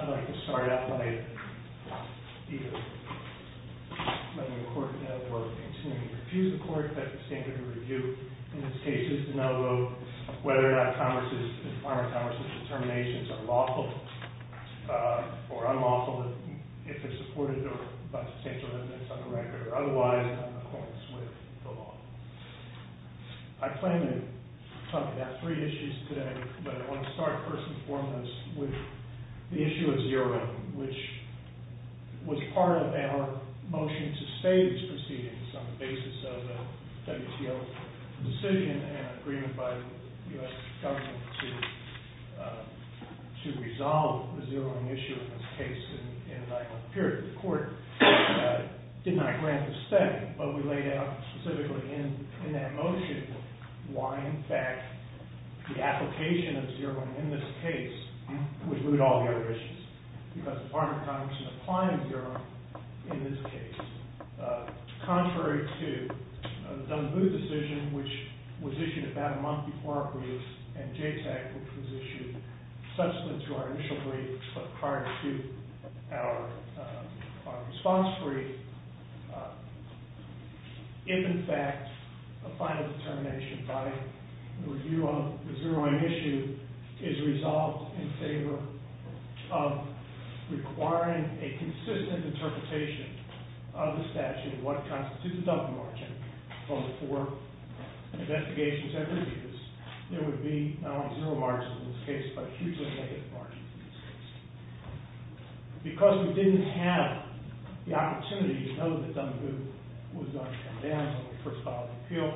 I'd like to start out by either letting the court know or continuing to refuse the court, that the standard of review in this case is to know whether or not Congress' and former Congress' determinations are lawful or unlawful, if they're supported by the state's ordinance on the record, or otherwise, in accordance with the law. I plan to talk about three issues today, but I want to start first and foremost with the WTO's decision and agreement by the U.S. government to resolve the zeroing issue in this case in a nine-month period. The court did not grant this step, but we laid out specifically in that motion why, in fact, the application of zeroing in this case would root all the other issues, because the former Congress is applying zeroing in this case. Contrary to the Dunboo decision, which was issued about a month before our brief, and JTAG, which was issued subsequent to our initial brief, but prior to our response brief, if in fact a final determination by the review of the zeroing issue is resolved in favor of requiring a consistent interpretation of the statute of what constitutes a double margin for the four investigations and reviews, there would be not only zero margins in this case, but a hugely negative margin in this case. Because we didn't have the opportunity to know that Dunboo was going to come down when they first filed an appeal,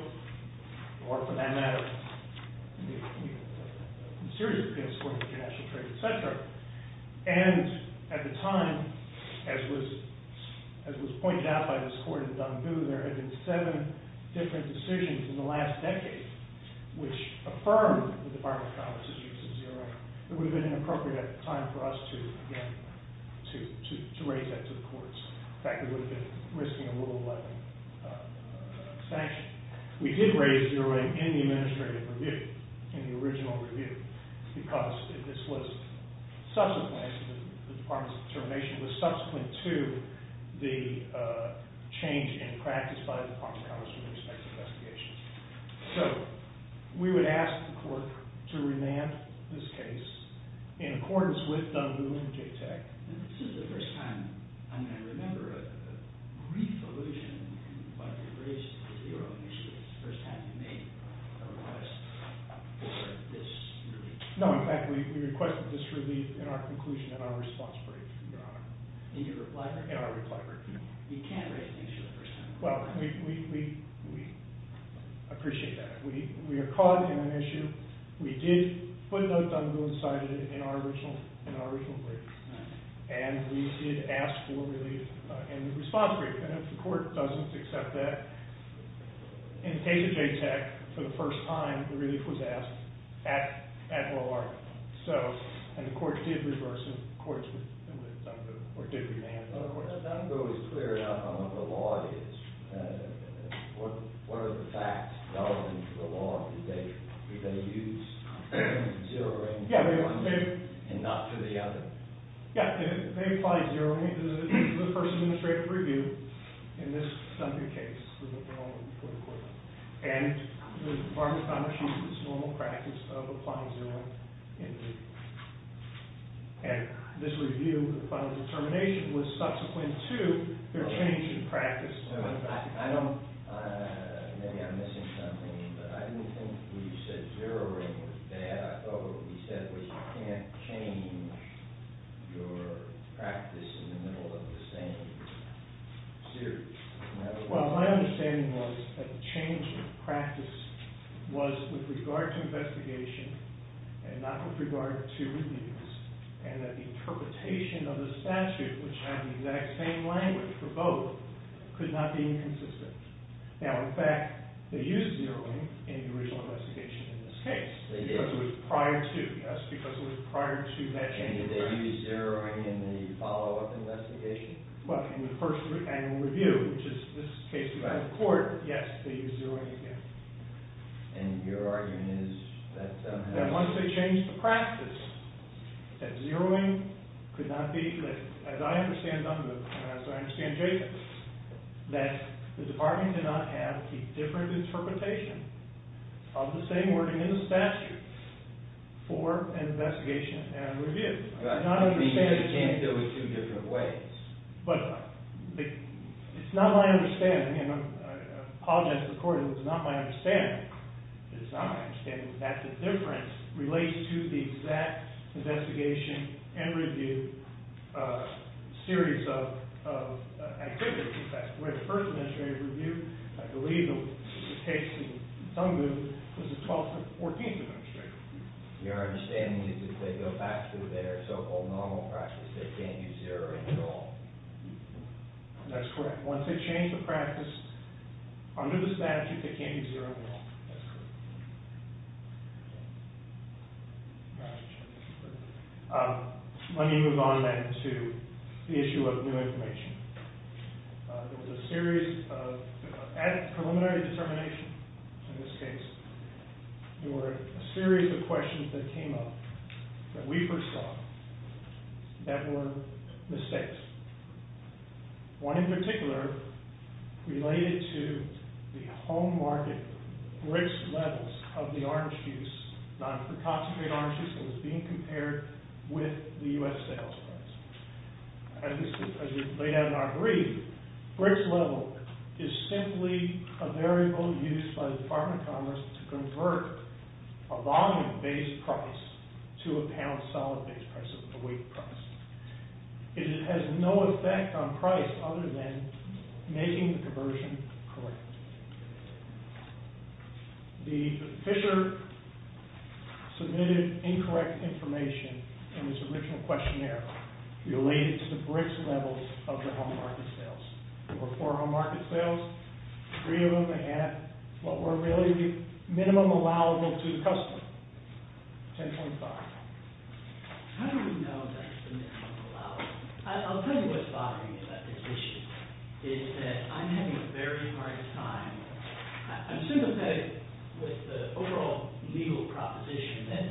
or for that matter, a serious appeal in support of international trade, etc. And at the time, as was pointed out by this court in Dunboo, there had been seven different decisions in the last decade which affirmed the Department of Commerce's use of zeroing. It would have been inappropriate at the time for us to raise that to the courts. In fact, we would have been risking a rule-abiding sanction. We did raise zeroing in the administrative review, in the original review, because this was subsequent, the Department's determination was subsequent to the change in practice by the Department of Commerce with respect to investigations. So, we would ask the court to remand this case in accordance with Dunboo and JTAG. This is the first time I remember a brief allusion in what you raised with your own initiatives, the first time you made a request for this relief. No, in fact, we requested this relief in our conclusion, in our response brief, Your Honor. In your reply brief? In our reply brief. We can't raise things for the first time. Well, we appreciate that. We are caught in an issue. We did put Dunboo inside it in our original brief, and we did ask for relief in the response brief. And if the court doesn't accept that, in the case of JTAG, for the first time, the relief was asked at oral argument. So, and the court did reverse it. The courts remanded Dunboo. Dunboo is clear enough on what the law is. What are the facts relevant to the law? Did they use zero rating for one, and not for the other? Yeah, they applied zero rating. This is the first administrative review in this Dunboo case. And the Department of Commerce uses normal practice of applying zero rating. And this review, the final determination, was subsequent to their change in practice I don't, maybe I'm missing something, but I didn't think when you said zero rating was bad. I thought what you said was you can't change your practice in the middle of the same series. Well, my understanding was that the change of practice was with regard to investigation and not with regard to reliefs. And that the interpretation of the statute, which had the exact same language for both, could not be inconsistent. Now, in fact, they used zeroing in the original investigation in this case. They did. Because it was prior to, yes, because it was prior to that change in practice. And did they use zeroing in the follow-up investigation? Well, in the first annual review, which is this case we have in court, yes, they used zeroing again. And your argument is that, um. That once they changed the practice, that zeroing could not be, that as I understand it, that the department did not have the different interpretation of the same wording in the statute for investigation and review. I'm not understanding. You're saying there were two different ways. But it's not my understanding, and I apologize to the court, it's not my understanding. It's not my understanding that the difference relates to the exact investigation and review series of activities. That's the way the first administrative review, I believe the case in some groups, was the 12th or 14th administrative review. Your understanding is that they go back to their so-called normal practice. They can't use zeroing at all. That's correct. Once they change the practice, under the statute, they can't use zeroing at all. That's correct. Um, let me move on then to the issue of new information. There was a series of, at preliminary determination, in this case, there were a series of questions that came up that we first saw that were mistakes. One in particular related to the home market BRICS levels of the arms use, non-concentrated arms use, being compared with the U.S. sales price. As you may have not agreed, BRICS level is simply a variable used by the Department of Commerce to convert a volume-based price to a pound-solid-based price, a weight price. It has no effect on price other than making the conversion correct. The, Fisher submitted incorrect information in his original questionnaire related to the BRICS levels of the home market sales. There were four home market sales. Three of them had what were really minimum allowable to the customer, 10.5. How do we know that's the minimum allowable? I'll tell you what's bothering me about this issue, is that I'm having a very hard time, I'm sympathetic with the overall legal proposition that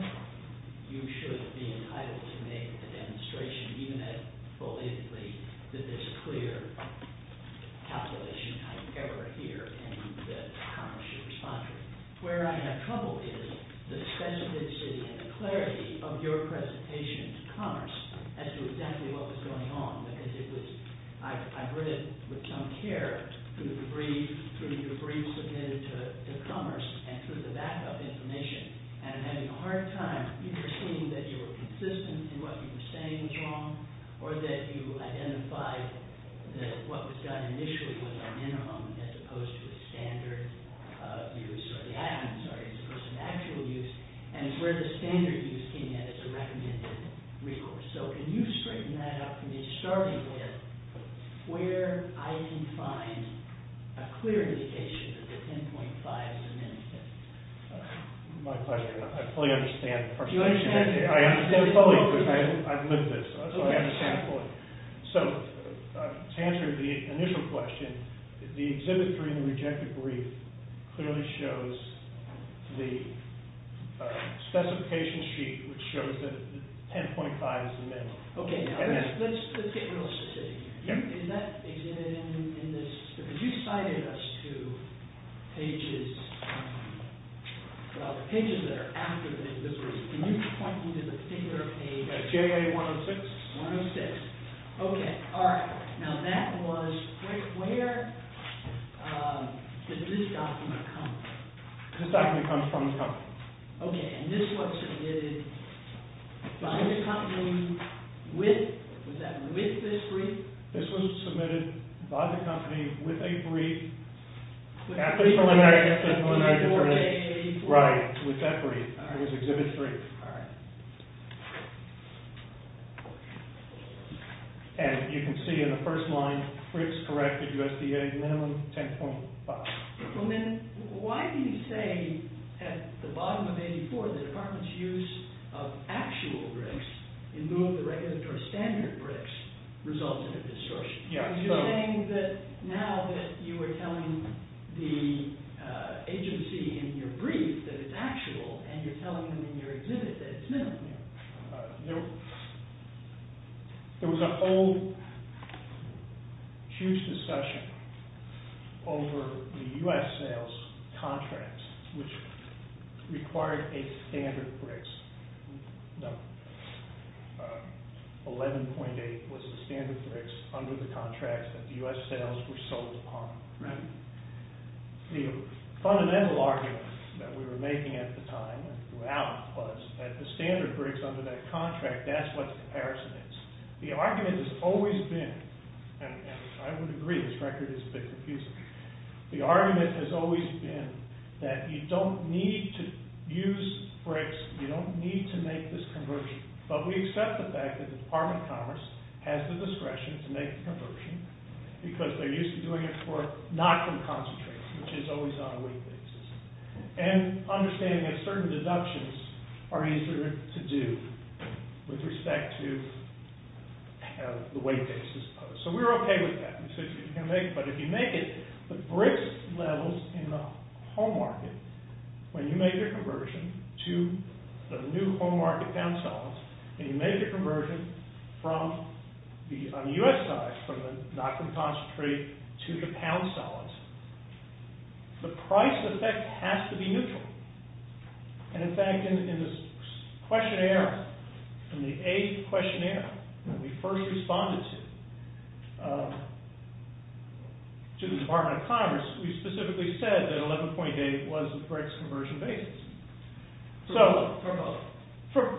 you should be entitled to make a demonstration, even if, believe it or not, that there's a clear capital issue, however, here in the case of your presentation to Commerce as to exactly what was going on, because it was, I heard it with some care through the briefs, through the briefs submitted to Commerce and through the backup information, and I'm having a hard time either seeing that you were consistent in what you were saying was wrong or that you identified that what was done initially was a minimum as opposed to the standard use, or the actual use, and where the standard use came in as a recommended recourse. So, can you straighten that out for me, starting with where I can find a clear indication that the 10.5 is a minimum? My pleasure. I fully understand. Do you understand? I understand fully, because I've lived this, so I understand fully. So, to answer the initial question, the exhibit 3 in the rejected brief clearly shows the specification sheet, which shows that the 10.5 is a minimum. Okay, now let's get realistic here. In that exhibit, in this, because you cited us to pages, well, the pages that are after the invisibility, can you point me to the particular page? JA 106. 106. Okay, all right. Now, that was, where did this document come from? This document comes from the company. Okay, and this was submitted by the company with, was that with this brief? This was submitted by the company with a brief. After the preliminary determination. Right, with that brief. All right. It was exhibit 3. All right. And you can see in the first line, Fritz corrected USDA minimum 10.5. Well, then, why do you say at the bottom of 84, the department's use of actual bricks, in lieu of the regulatory standard bricks, resulted in distortion? You're saying that now that you are telling the agency in your brief that it's actual, and you're telling them in your exhibit that it's minimum. There was a whole huge discussion over the U.S. sales contracts, which required a standard bricks. 11.8 was the standard bricks under the contracts that the U.S. sales were sold upon. Right. The fundamental argument that we were making at the time, and throughout, was that the standard bricks under that contract, that's what the comparison is. The argument has always been, and I would agree this record is a bit confusing, the argument has always been that you don't need to use bricks, you don't need to make this conversion. But we accept the fact that the Department of Commerce has the discretion to make the conversion, because they're used to doing it for not from concentrates, which is always on a weight basis. And understanding that certain deductions are easier to do with respect to the weight basis. So we're okay with that. But if you make it, the bricks levels in the home market, when you make your conversion to the new home market pound solids, and you make your conversion on the U.S. side, from the not from concentrate to the pound solids, the price effect has to be neutral. And in fact, in the questionnaire, in the A questionnaire, when we first responded to the Department of Commerce, we specifically said that 11.8 was the bricks conversion basis. So... For both.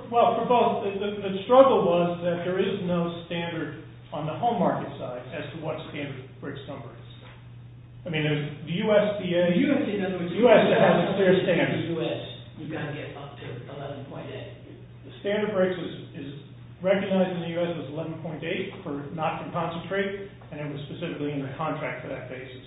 Well, for both. The struggle was that there is no standard on the home market side as to what standard bricks number is. I mean, there's the USDA... The USDA has a clear standard. In the U.S., you've got to get up to 11.8. The standard bricks is recognized in the U.S. as 11.8 for not from concentrate, and it was specifically in the contract for that basis.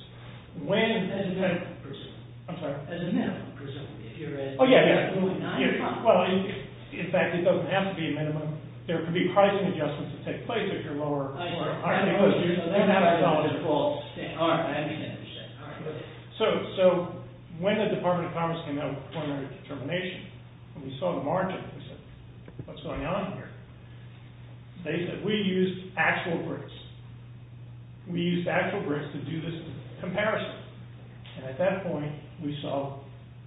When... As a minimum, presumably. I'm sorry? As a minimum, presumably. If you're at... Oh, yeah, yeah. Well, in fact, it doesn't have to be a minimum. There could be pricing adjustments that take place if you're lower... I understand. So, when the Department of Commerce came out with preliminary determination, when we saw the margin, we said, what's going on here? They said, we used actual bricks. We used actual bricks to do this comparison. And at that point, we saw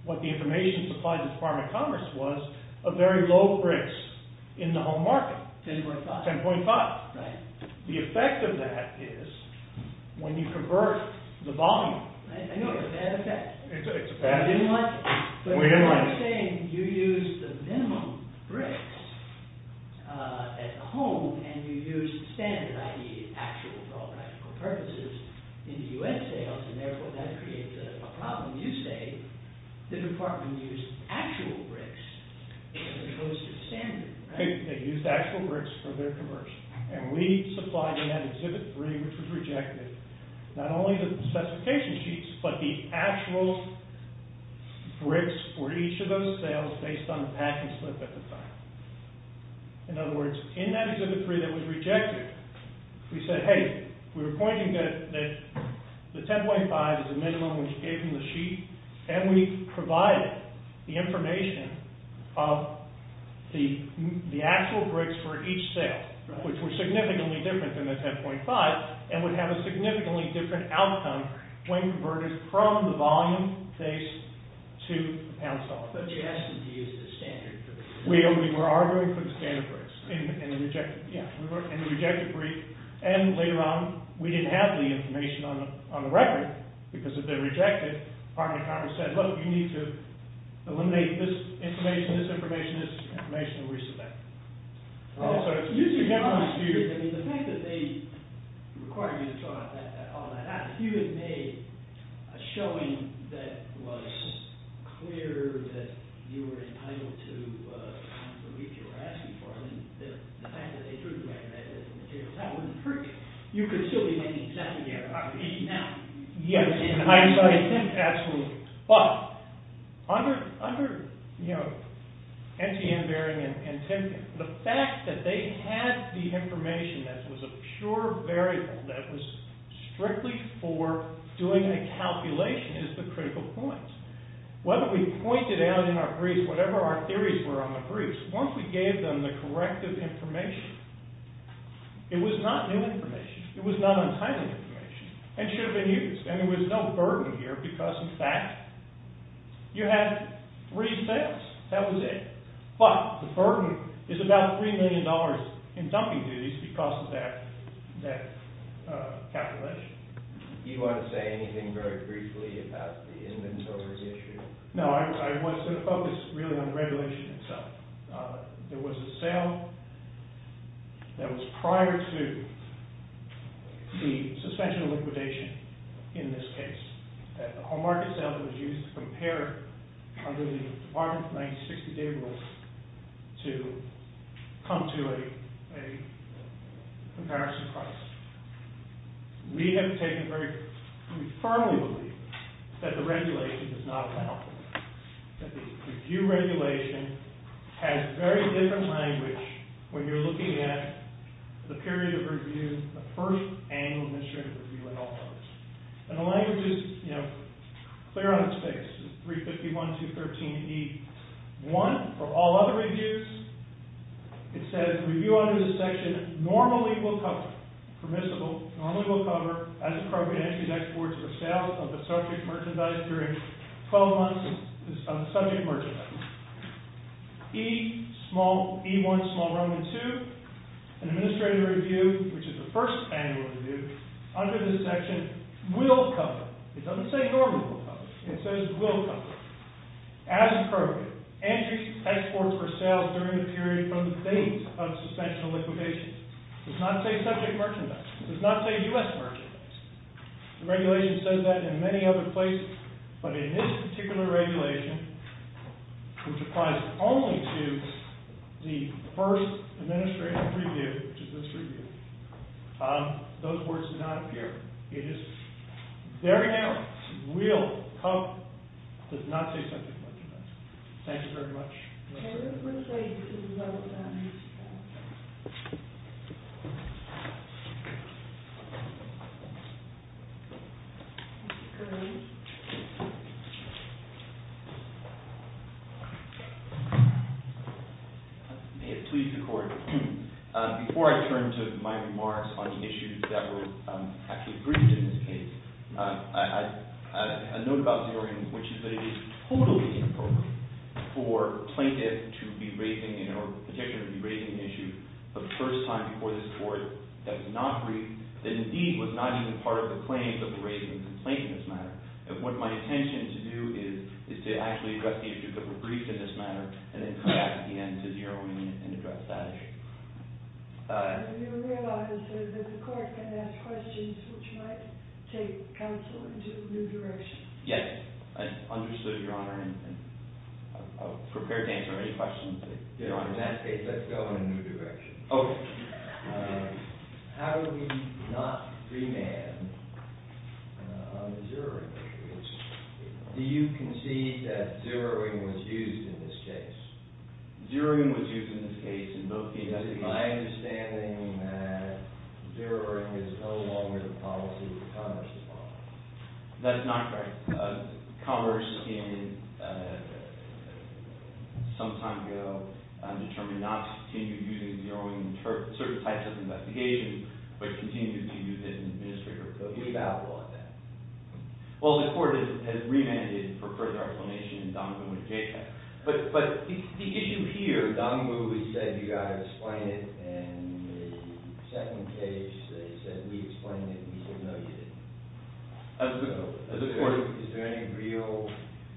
what the information supplied to the Department of Commerce was of very low bricks in the home market. 10.5. 10.5. Right. The effect of that is when you convert the volume... I know it's a bad effect. It's a bad... I didn't like it. We didn't like it. You're saying you used the minimum bricks at home and you used standard, i.e. actual for all practical purposes in the U.S. sales, and therefore that creates a problem. You say the department used actual bricks as opposed to standard, right? They used actual bricks for their commercial. And we supplied them at exhibit three, which was rejected. Not only the specification sheets, but the actual bricks for each of those sales based on the packing slip at the time. In other words, in that exhibit three that was rejected, we said, hey, we were pointing that the 10.5 is the minimum we gave them the sheet, and we provided the information of the actual bricks for each sale, which were significantly different than the 10.5 and would have a significantly different outcome when converted from the volume base to the pound solid. But you asked them to use the standard bricks. We were arguing for the standard bricks in the rejected brief, and later on we didn't have the information on the record because it had been rejected. The Department of Commerce said, look, you need to eliminate this information, this information, this information, and we submitted it. The fact that they required you to draw out all that, if you had made a showing that was clear that you were entitled to the brief you were asking for, the fact that they drew the record out of those materials, that wouldn't hurt. You could still be making a second year out of it now. Yes, I think absolutely. But under NTN-bearing and TIN-bearing, the fact that they had the information that was a pure variable that was strictly for doing a calculation is the critical point. Whether we pointed out in our briefs whatever our theories were on the briefs, once we gave them the corrective information, it was not new information, it was not untimely information, and should have been used. And there was no burden here because, in fact, you had three sales. That was it. But the burden is about $3 million in dumping duties because of that calculation. You want to say anything very briefly about the inventories issue? No, I want to focus really on the regulation itself. There was a sale that was prior to the suspension of liquidation in this case. A whole market sale that was used to compare under the Department of 1960 data rules to come to a comparison price. We have taken very firmly with you that the regulation is not valid. That the review regulation has very different language when you're looking at the period of review, the first annual administrative review in all Congress. And the language is clear on its face. It's 351-213-E1 for all other reviews. It says, review under this section normally will cover, permissible, normally will cover as appropriate entries, exports, or sales of the subject merchandise during 12 months of subject merchandise. E1-2, an administrative review, which is the first annual review, under this section will cover. It doesn't say normally will cover. It says will cover. As appropriate, entries, exports, or sales during the period from the date of suspension of liquidation. Does not say subject merchandise. Does not say U.S. merchandise. The regulation says that in many other places, but in this particular regulation, which applies only to the first administrative review, which is this review, those words do not appear. It is very narrow. Will cover. Does not say subject merchandise. Thank you very much. I would say you can vote on this bill. Mr. Gurley? May it please the Court. Before I turn to my remarks on the issues that were actually briefed in this case, I petition to be raising the issue the first time before this Court that was not briefed, that indeed was not even part of the claims of the raising of the complaint in this matter. And what my intention to do is to actually address the issues that were briefed in this matter, and then come back at the end to zero in and address that issue. Do you realize that the Court can ask questions which might take counsel into a new direction? Yes. I understood, Your Honor, and I'm prepared to answer any questions that Your Honor has asked. Let's go in a new direction. Okay. How do we not remand on the zeroing? Do you concede that zeroing was used in this case? Zeroing was used in this case in both the investigation and the investigation. Is it my understanding that zeroing is no longer the policy that Congress is following? That's not correct. Congress, some time ago, determined not to continue using zeroing in certain types of investigations, but continued to use it in administrative cases. Who's at fault in that? Well, the Court has remanded for further explanation in Donovan v. Jaycock. But the issue here, Donovan v. Jaycock said you've got to explain it, and in the second case, they said we explained it, and we said no, you didn't. Is there any real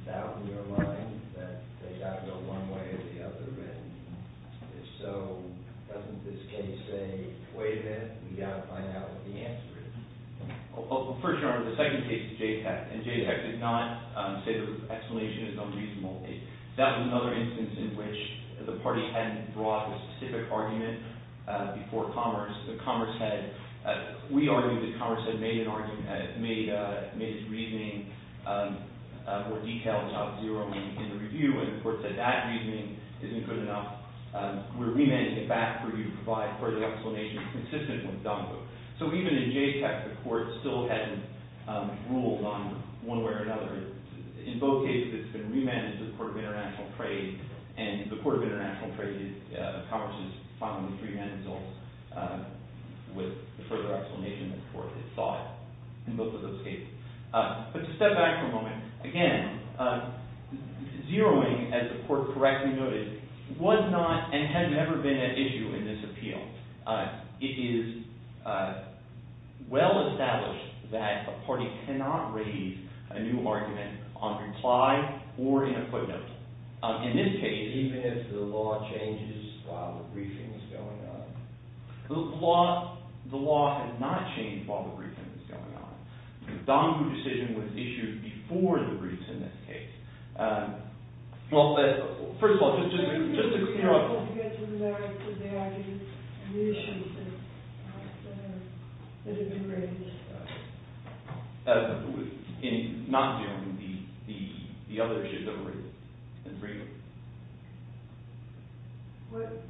doubt in your mind that they got it one way or the other, and if so, doesn't this case say, wait a minute, we've got to find out what the answer is? Well, first, Your Honor, the second case, Jaycock, and Jaycock did not say the explanation is unreasonable. That's another instance in which the party hadn't brought a specific argument before Commerce. We argued that Commerce had made its reasoning more detailed about zeroing in the review, and the Court said that reasoning isn't good enough. We're remanding it back for you to provide further explanation consistent with Donovan v. Jaycock. So even in Jaycock, the Court still hasn't ruled on one way or another. In both cases, it's been remanded to the Court of International Trade, and the Court of International Trade of Commerce has finally remanded the results with the further explanation the Court had sought in both of those cases. But to step back for a moment, again, zeroing, as the Court correctly noted, was not and has never been an issue in this appeal. It is well established that a party cannot raise a new argument on reply or in equipment. In this case, even if the law changes while the briefing is going on, the law has not changed while the briefing is going on. The Donovan v. Jaycock decision was issued before the briefs in this case. Well, first of all, just to be clear...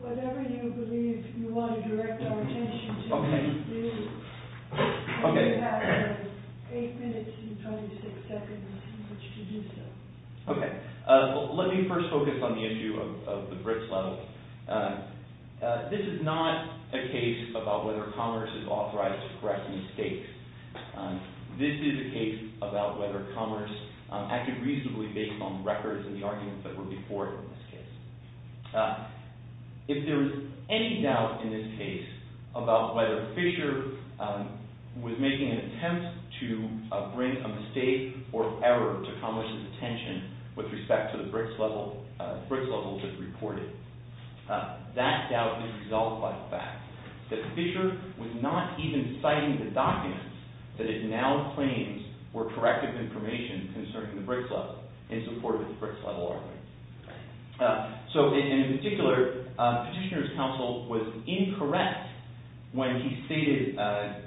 Whatever you believe you want to direct our attention to, please do. Okay. Okay. Let me first focus on the issue of the briefs level. This is not a case about whether commerce is authorized to correct mistakes. This is a case about whether commerce acted reasonably based on records and the arguments that were before it in this case. If there is any doubt in this case about whether Fisher was making an attempt to bring a mistake or error to commerce's attention with respect to the briefs level that was reported, that doubt is resolved by the fact that Fisher was not even citing the documents that it now claims were corrective information concerning the briefs level in support of the briefs level argument. So, in particular, Petitioner's counsel was incorrect when he stated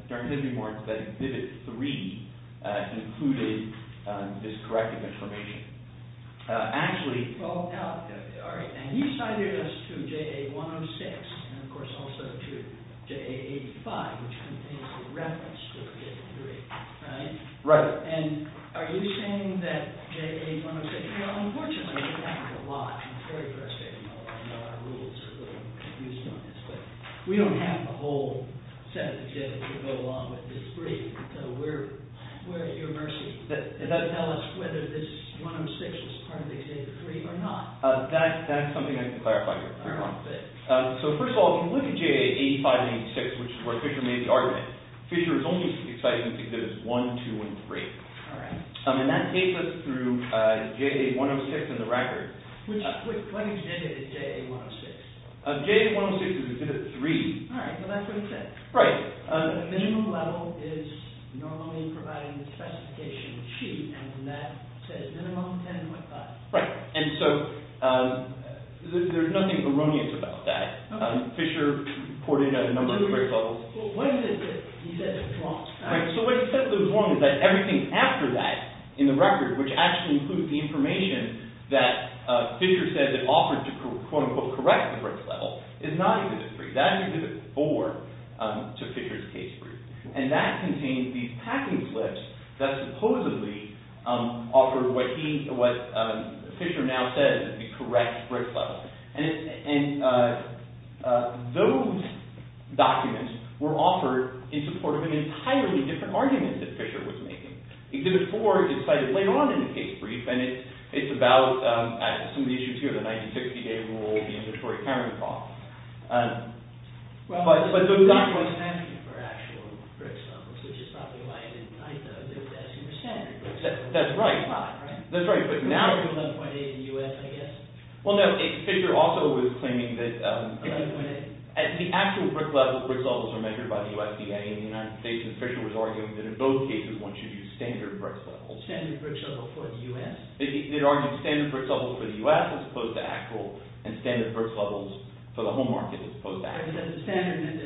during his remarks that Vivid 3 included this corrective information. Actually... Right. We don't have a whole set of data to go along with this brief, so we're at your mercy. Does that tell us whether this 106 is part of the Exhibit 3 or not? That's something I can clarify for you. Fair enough. So, first of all, if you look at J.A. 85 and 86, which is where Fisher made the argument, Fisher is only citing Exhibits 1, 2, and 3. All right. And that takes us through J.A. 106 and the record. Which... J.A. 106 is Exhibit 3. Right. Right. And so, there's nothing erroneous about that. Fisher reported a number of brief levels. Right. So, what he said that was wrong was that everything after that in the record, which actually included the information that Fisher said that offered to, quote-unquote, correct the brief level, is not Exhibit 3. That is Exhibit 4 to Fisher's case brief. And that contains these packing slips that supposedly offered what he, what Fisher now says is the correct brief level. And those documents were offered in support of an entirely different argument that Fisher was making. Exhibit 4 is cited later on in the case brief. And it's about some of the issues here. The 1960 day rule, the inventory accounting clause. But those documents... That's right. That's right. But now... Well, no. Fisher also was claiming that... The actual BRIC levels are measured by the USDA in the United States. And Fisher was arguing that in both cases one should use standard BRIC levels. Standard BRIC levels for the U.S.? They argued standard BRIC levels for the U.S. as opposed to actual. And standard BRIC levels for the home market as opposed to actual. But the standard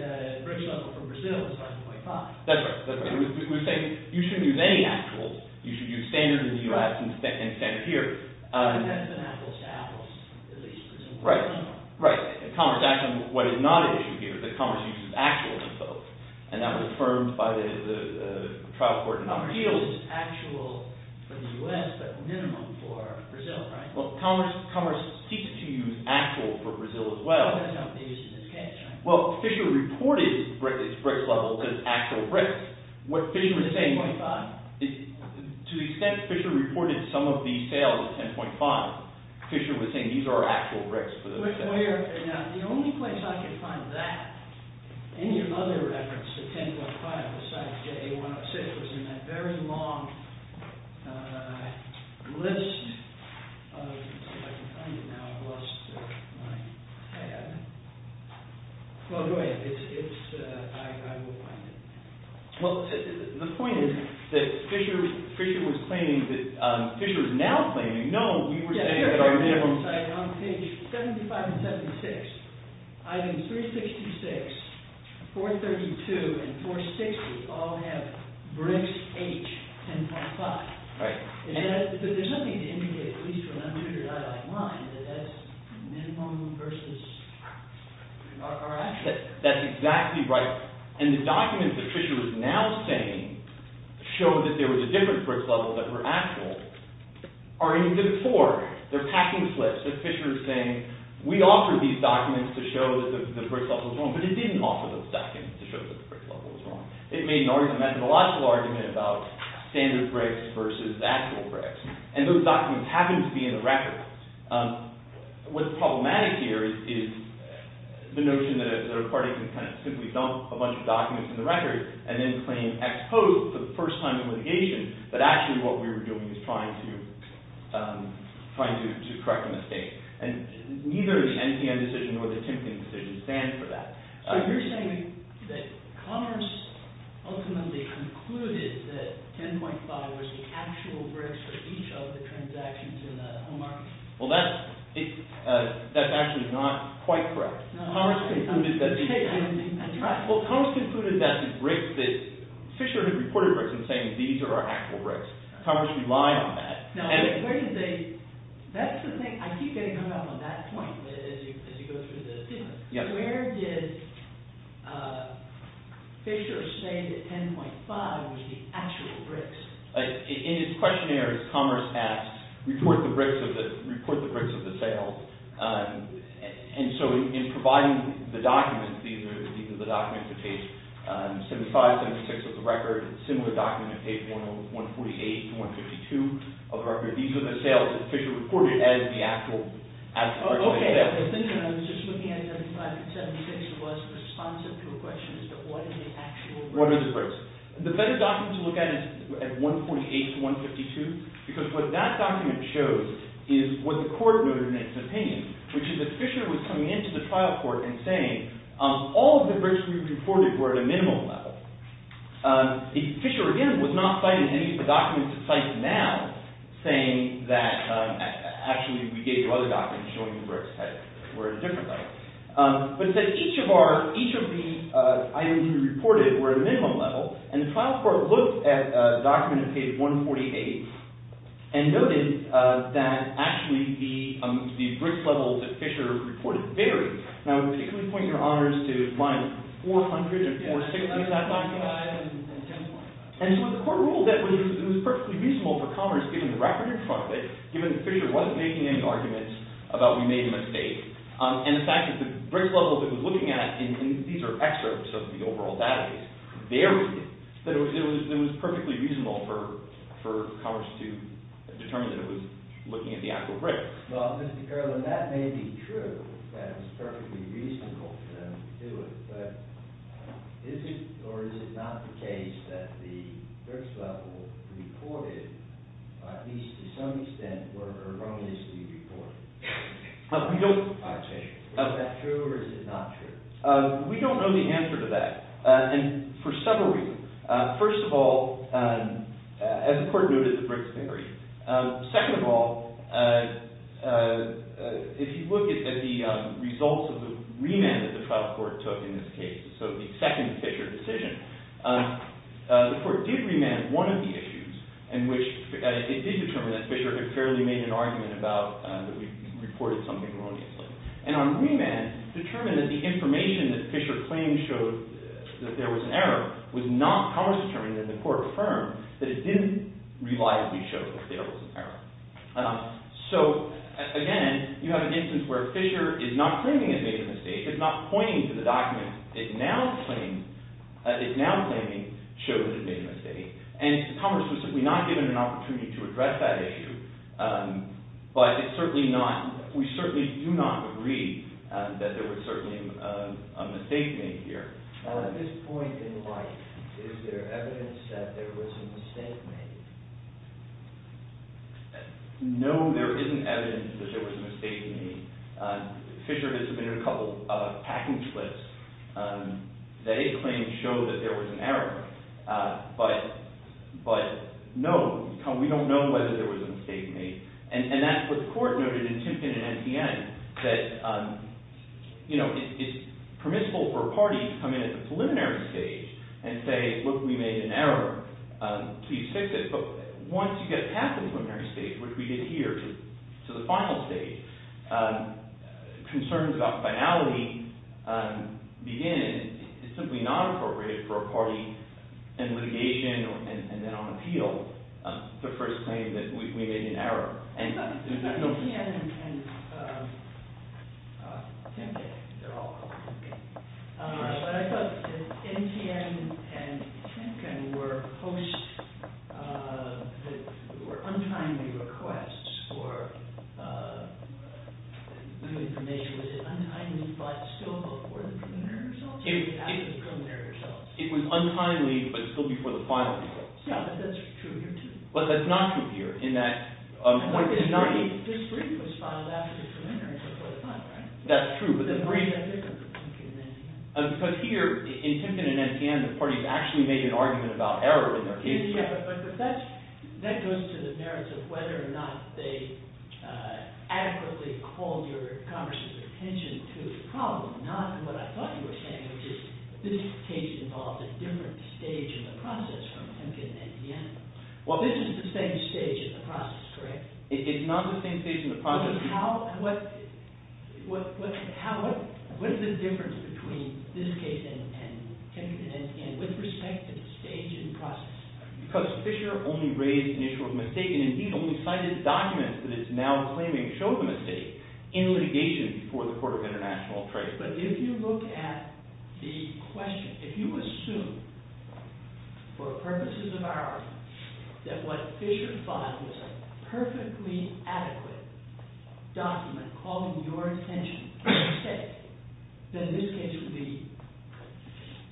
BRIC level for Brazil is 5.5. That's right. That's right. We're saying you shouldn't use any actual. You should use standard in the U.S. and standard here. And that's an apples-to-apples, at least. Right. Right. In commerce, actually, what is not an issue here is that commerce uses actual as opposed. And that was affirmed by the trial court in appeals. Commerce uses actual for the U.S. but minimum for Brazil, right? Well, commerce seeks to use actual for Brazil as well. Oh, that's how they use it in this case, right? Well, Fisher reported its BRIC levels as actual BRICs. What Fisher was saying... 10.5? To the extent Fisher reported some of the sales as 10.5, Fisher was saying these are actual BRICs for those sales. The only place I could find that, any other reference to 10.5 besides J106, was in that very long list. Let's see if I can find it now. I've lost my pad. Well, go ahead. It's... I will find it. Well, the point is that Fisher was claiming that... Fisher is now claiming, no, we were saying that our minimum... On page 75 and 76, items 366, 432, and 460 all have BRICs H10.5. Right. But there's nothing to indicate, at least when I'm doing it out of my mind, that that's minimum versus our actual. That's exactly right. And the documents that Fisher was now saying show that there was a different BRIC level that were actual. Or even before, they're packing slips. Fisher is saying, we offered these documents to show that the BRIC level was wrong, but it didn't offer those documents to show that the BRIC level was wrong. It made an argument, a methodological argument, about standard BRICs versus actual BRICs. And those documents happen to be in the record. What's problematic here is the notion that a party can kind of simply dump a bunch of documents in the record and then claim ex post, the first time in litigation, that actually what we were doing was trying to correct a mistake. And neither the NPM decision nor the Timpkin decision stands for that. So you're saying that Commerce ultimately concluded that H10.5 was the actual BRICs for each of the transactions in the home market? Well, that's actually not quite correct. Commerce concluded that... Commerce relied on that. I keep getting hung up on that point as you go through this. Where did Fisher say that H10.5 was the actual BRICs? In his questionnaire, Commerce asked, report the BRICs of the sale. And so in providing the documents, these are the documents that page 75, 76 of the record. A similar document page 148 to 152 of the record. These are the sales that Fisher reported as the actual BRICs. Okay. I was just looking at 75 and 76. It wasn't responsive to a question as to what is the actual BRICs. What are the BRICs? The better document to look at is 148 to 152, because what that document shows is what the court noted in its opinion, which is that Fisher was coming into the trial court and saying all of the BRICs we reported were at a minimum level. Fisher, again, was not citing any of the documents he cites now, saying that actually we gave you other documents showing the BRICs were at a different level. But that each of the items we reported were at a minimum level. And the trial court looked at a document page 148 and noted that actually the BRIC levels that Fisher reported varied. Now, can we point your honors to lines 400 and 460 of that document? And so the court ruled that it was perfectly reasonable for Commerce, given the record in front of it, given that Fisher wasn't making any arguments about we made a mistake, and the fact that the BRIC level that it was looking at, and these are excerpts of the overall database, varied, that it was perfectly reasonable for Commerce to determine that it was looking at the actual BRICs. Well, Mr. Carlin, that may be true, that it was perfectly reasonable for them to do it, but is it or is it not the case that the BRICs level reported, at least to some extent, were erroneously reported? Is that true or is it not true? We don't know the answer to that. And for several reasons. First of all, as the court noted, the BRICs vary. Second of all, if you look at the results of the remand that the trial court took in this case, so the second Fisher decision, the court did remand one of the issues, in which it did determine that Fisher had fairly made an argument about that we reported something erroneously. And on remand, determined that the information that Fisher claimed showed that there was an error was not, Commerce determined, and the court affirmed, that it didn't reliably show that there was an error. So, again, you have an instance where Fisher is not claiming it made a mistake. It's not pointing to the document. It's now claiming, shows it made a mistake. And Commerce was simply not given an opportunity to address that issue. But it's certainly not, we certainly do not agree that there was certainly a mistake made here. At this point in life, is there evidence that there was a mistake made? No, there isn't evidence that there was a mistake made. Fisher has submitted a couple of packing slips that it claims show that there was an error. But no, we don't know whether there was a mistake made. And that's what the court noted in Timpkin and NPN, that it's permissible for a party to come in at the preliminary stage and say, look, we made an error. Please fix it. But once you get past the preliminary stage, which we did here, to the final stage, concerns about finality begin. It's simply not appropriate for a party in litigation and then on appeal to first claim that we made an error. NPN and Timpkin, they're all called Timpkin. But I thought NPN and Timpkin were posts that were untimely requests for new information. Was it untimely but still before the preliminary results or after the preliminary results? It was untimely but still before the final results. Yeah, but that's true here too. But that's not true here in that point. This reading was filed after the preliminary before the final, right? That's true. But here, in Timpkin and NPN, the parties actually made an argument about error in their cases. Yeah, but that goes to the merits of whether or not they adequately called your Congress's attention to the problem, not in what I thought you were saying, which is this case involved a different stage in the process from Timpkin and NPN. Well, this is the same stage in the process, correct? It's not the same stage in the process. What is the difference between this case and Timpkin and NPN with respect to the stage in the process? Because Fisher only raised an issue of mistake and, indeed, only cited documents that it's now claiming show the mistake in litigation before the Court of International Affairs. But if you look at the question, if you assume, for purposes of our argument, that what Fisher thought was a perfectly adequate document calling your attention to the mistake, then this case would be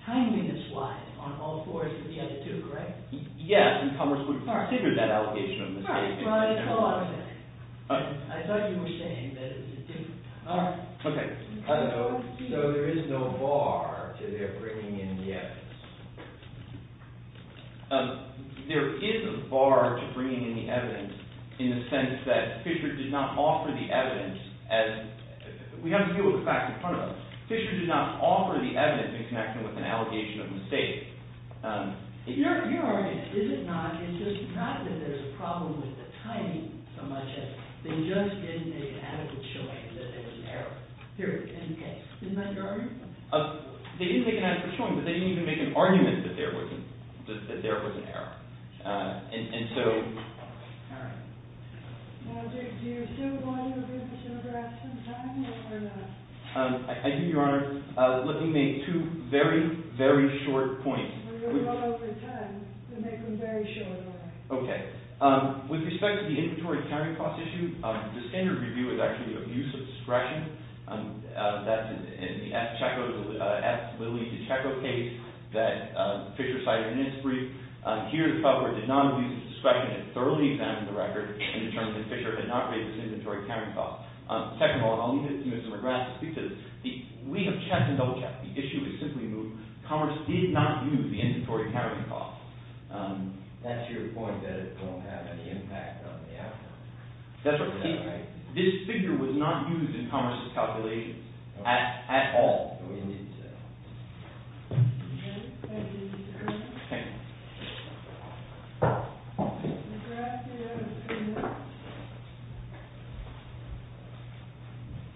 timeliness-wise on all fours of the other two, correct? Yes, and Congress would have considered that allegation on this case. Right, but I thought you were saying that it was different. Okay, so there is no bar to their bringing in the evidence. There is a bar to bringing in the evidence in the sense that Fisher did not offer the evidence as – we have to deal with the fact in front of us. Fisher did not offer the evidence in connection with an allegation of mistake. Your argument, is it not, is just not that there's a problem with the timing so much as they just didn't make an adequate showing that there was an error, period, in the case. Isn't that your argument? They didn't make an adequate showing, but they didn't even make an argument that there was an error. And so – All right. Now, do you still want to agree with Joe Grasson's argument or not? I do, Your Honor. Let me make two very, very short points. Well, you're running out of time, so make them very short, all right. Okay. With respect to the inventory countering cost issue, the standard review is actually abuse of discretion. That's in the F. Lilley DiCecco case that Fisher cited in his brief. Here, the felder did not abuse of discretion and thoroughly examined the record and determined that Fisher had not raised this inventory countering cost. Second of all, I'll leave it to Mr. McGrath to speak to this. We have checked and double-checked. The issue is simply moved. Commerce did not use the inventory countering cost. That's your point, that it won't have any impact on the outcome. That's what we said, right? This figure was not used in Commerce's calculations at all. No, it didn't say that. Thank you, Mr. Krugman. Okay. Mr. McGrath, do you have a few minutes?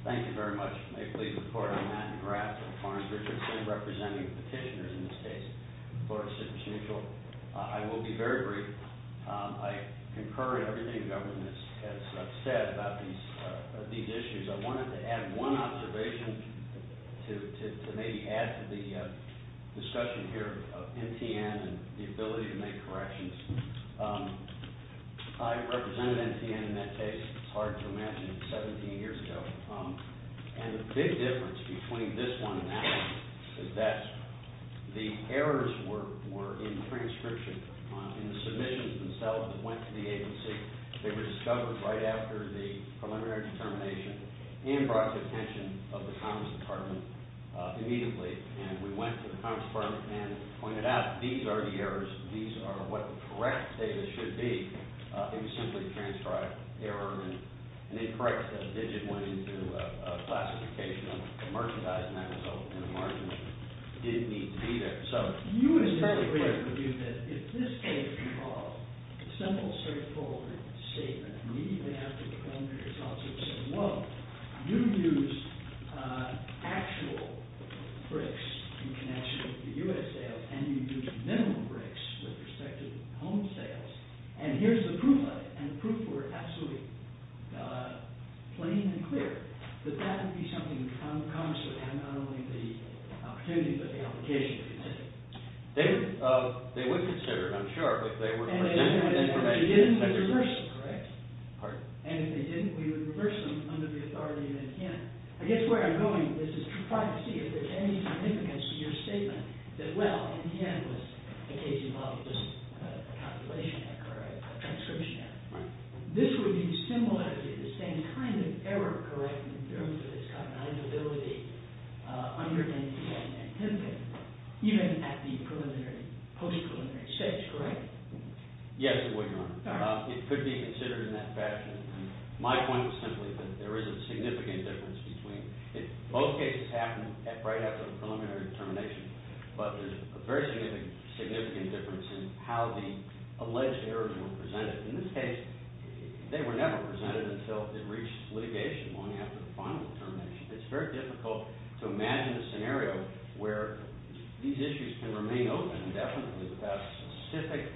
Thank you very much. May it please the Court, I'm Matt McGrath of Farns Richardson, representing petitioners in this case, Florida Citrus Mutual. I will be very brief. I concur in everything the government has said about these issues. I wanted to add one observation to maybe add to the discussion here of NTN and the ability to make corrections. I represented NTN in that case. It's hard to imagine 17 years ago. And the big difference between this one and that one is that the errors were in transcription. In the submissions themselves that went to the agency, they were discovered right after the preliminary determination. And brought to the attention of the Commerce Department immediately. And we went to the Commerce Department and pointed out, these are the errors. These are what the correct data should be. It was simply transcribed error. An incorrect digit went into a classification of a merchandise, and that result in the margins didn't need to be there. It's very clear to me that if this case involved a simple, straightforward statement immediately after the preliminary results, it would say, well, you used actual bricks in connection with the U.S. sales, and you used minimal bricks with respect to home sales. And here's the proof of it. And the proof were absolutely plain and clear. But that would be something the Commerce Department had not only the opportunity, but the obligation to consider. They would consider it, I'm sure, if they were to present the information. And if they didn't, we would reverse them, correct? Pardon? And if they didn't, we would reverse them under the authority of NTN. I guess where I'm going with this is to try to see if there's any significance to your statement that, well, NTN was a case that involved just a calculation error or a transcription error. Right. Now, this would be similar to the same kind of error, correct, in terms of its cognizability under NTN and PNP, even at the post-preliminary stage, correct? Yes, it would, Your Honor. All right. It could be considered in that fashion. My point was simply that there is a significant difference between – both cases happened right after the preliminary determination, but there's a very significant difference in how the alleged errors were presented. In this case, they were never presented until it reached litigation long after the final determination. It's very difficult to imagine a scenario where these issues can remain open indefinitely without specific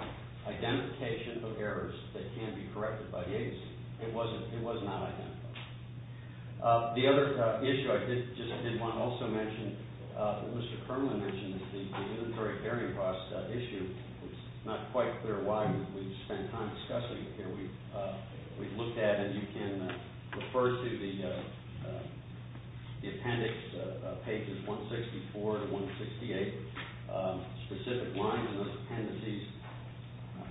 identification of errors that can be corrected by the agency. It was not identified. The other issue I just didn't want to also mention that Mr. Kermlin mentioned, is the inventory carrying cost issue. It's not quite clear why, but we've spent time discussing it here. We've looked at it, and you can refer to the appendix, pages 164 to 168, specific lines in those appendices –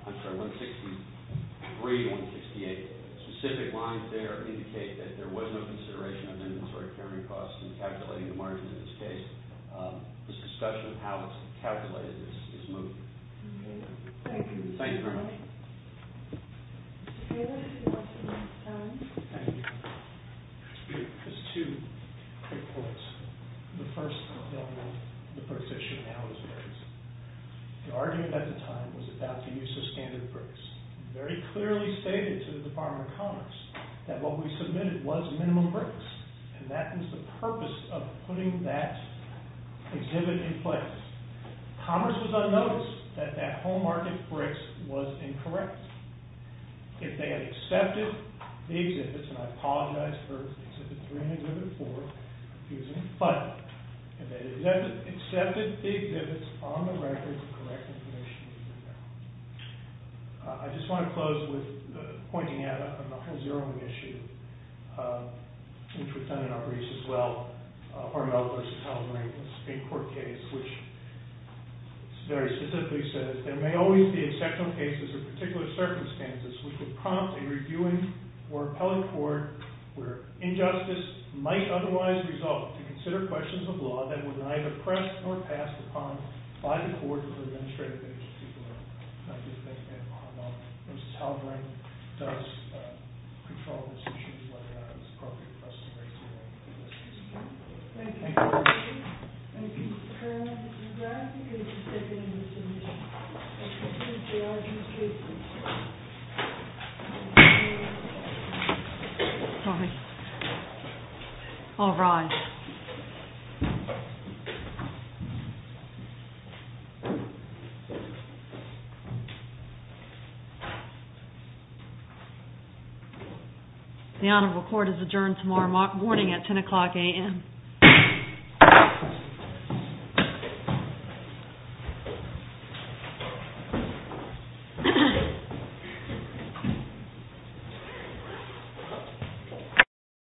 I'm sorry, 163 to 168. Specific lines there indicate that there was no consideration of inventory carrying costs in calculating the margins in this case. This discussion of how it's calculated is moving. Thank you. Thank you very much. Mr. Taylor, if you'd like to make a comment. Thank you. Just two quick points. The first of them is the precision of how it was raised. The argument at the time was about the use of standard bricks. It very clearly stated to the Department of Commerce that what we submitted was minimum bricks, and that was the purpose of putting that exhibit in place. Commerce was unnoticed that that whole market bricks was incorrect. If they had accepted the exhibits, and I apologize for Exhibit 3 and Exhibit 4, but if they had accepted the exhibits on the record, the correct information would be there. I just want to close with pointing out another zeroing issue, which was done in our briefs as well, Arnell v. Haldeman in a Supreme Court case, which very specifically says, there may always be exceptional cases or particular circumstances which would prompt a reviewing or appellate court where injustice might otherwise result to consider questions of law that were neither pressed nor passed upon by the court or the administrative agency. I just want to make that point out, which is how great does control of institutions like ours, appropriate for us to raise in this case. Thank you. Thank you, Mr. Chairman. Congratulations. Thank you. Thank you. Thank you. Thank you. Thank you. Thank you. Thank you. Thank you. The Honorable Court is adjourned tomorrow morning at 10 o'clock a.m.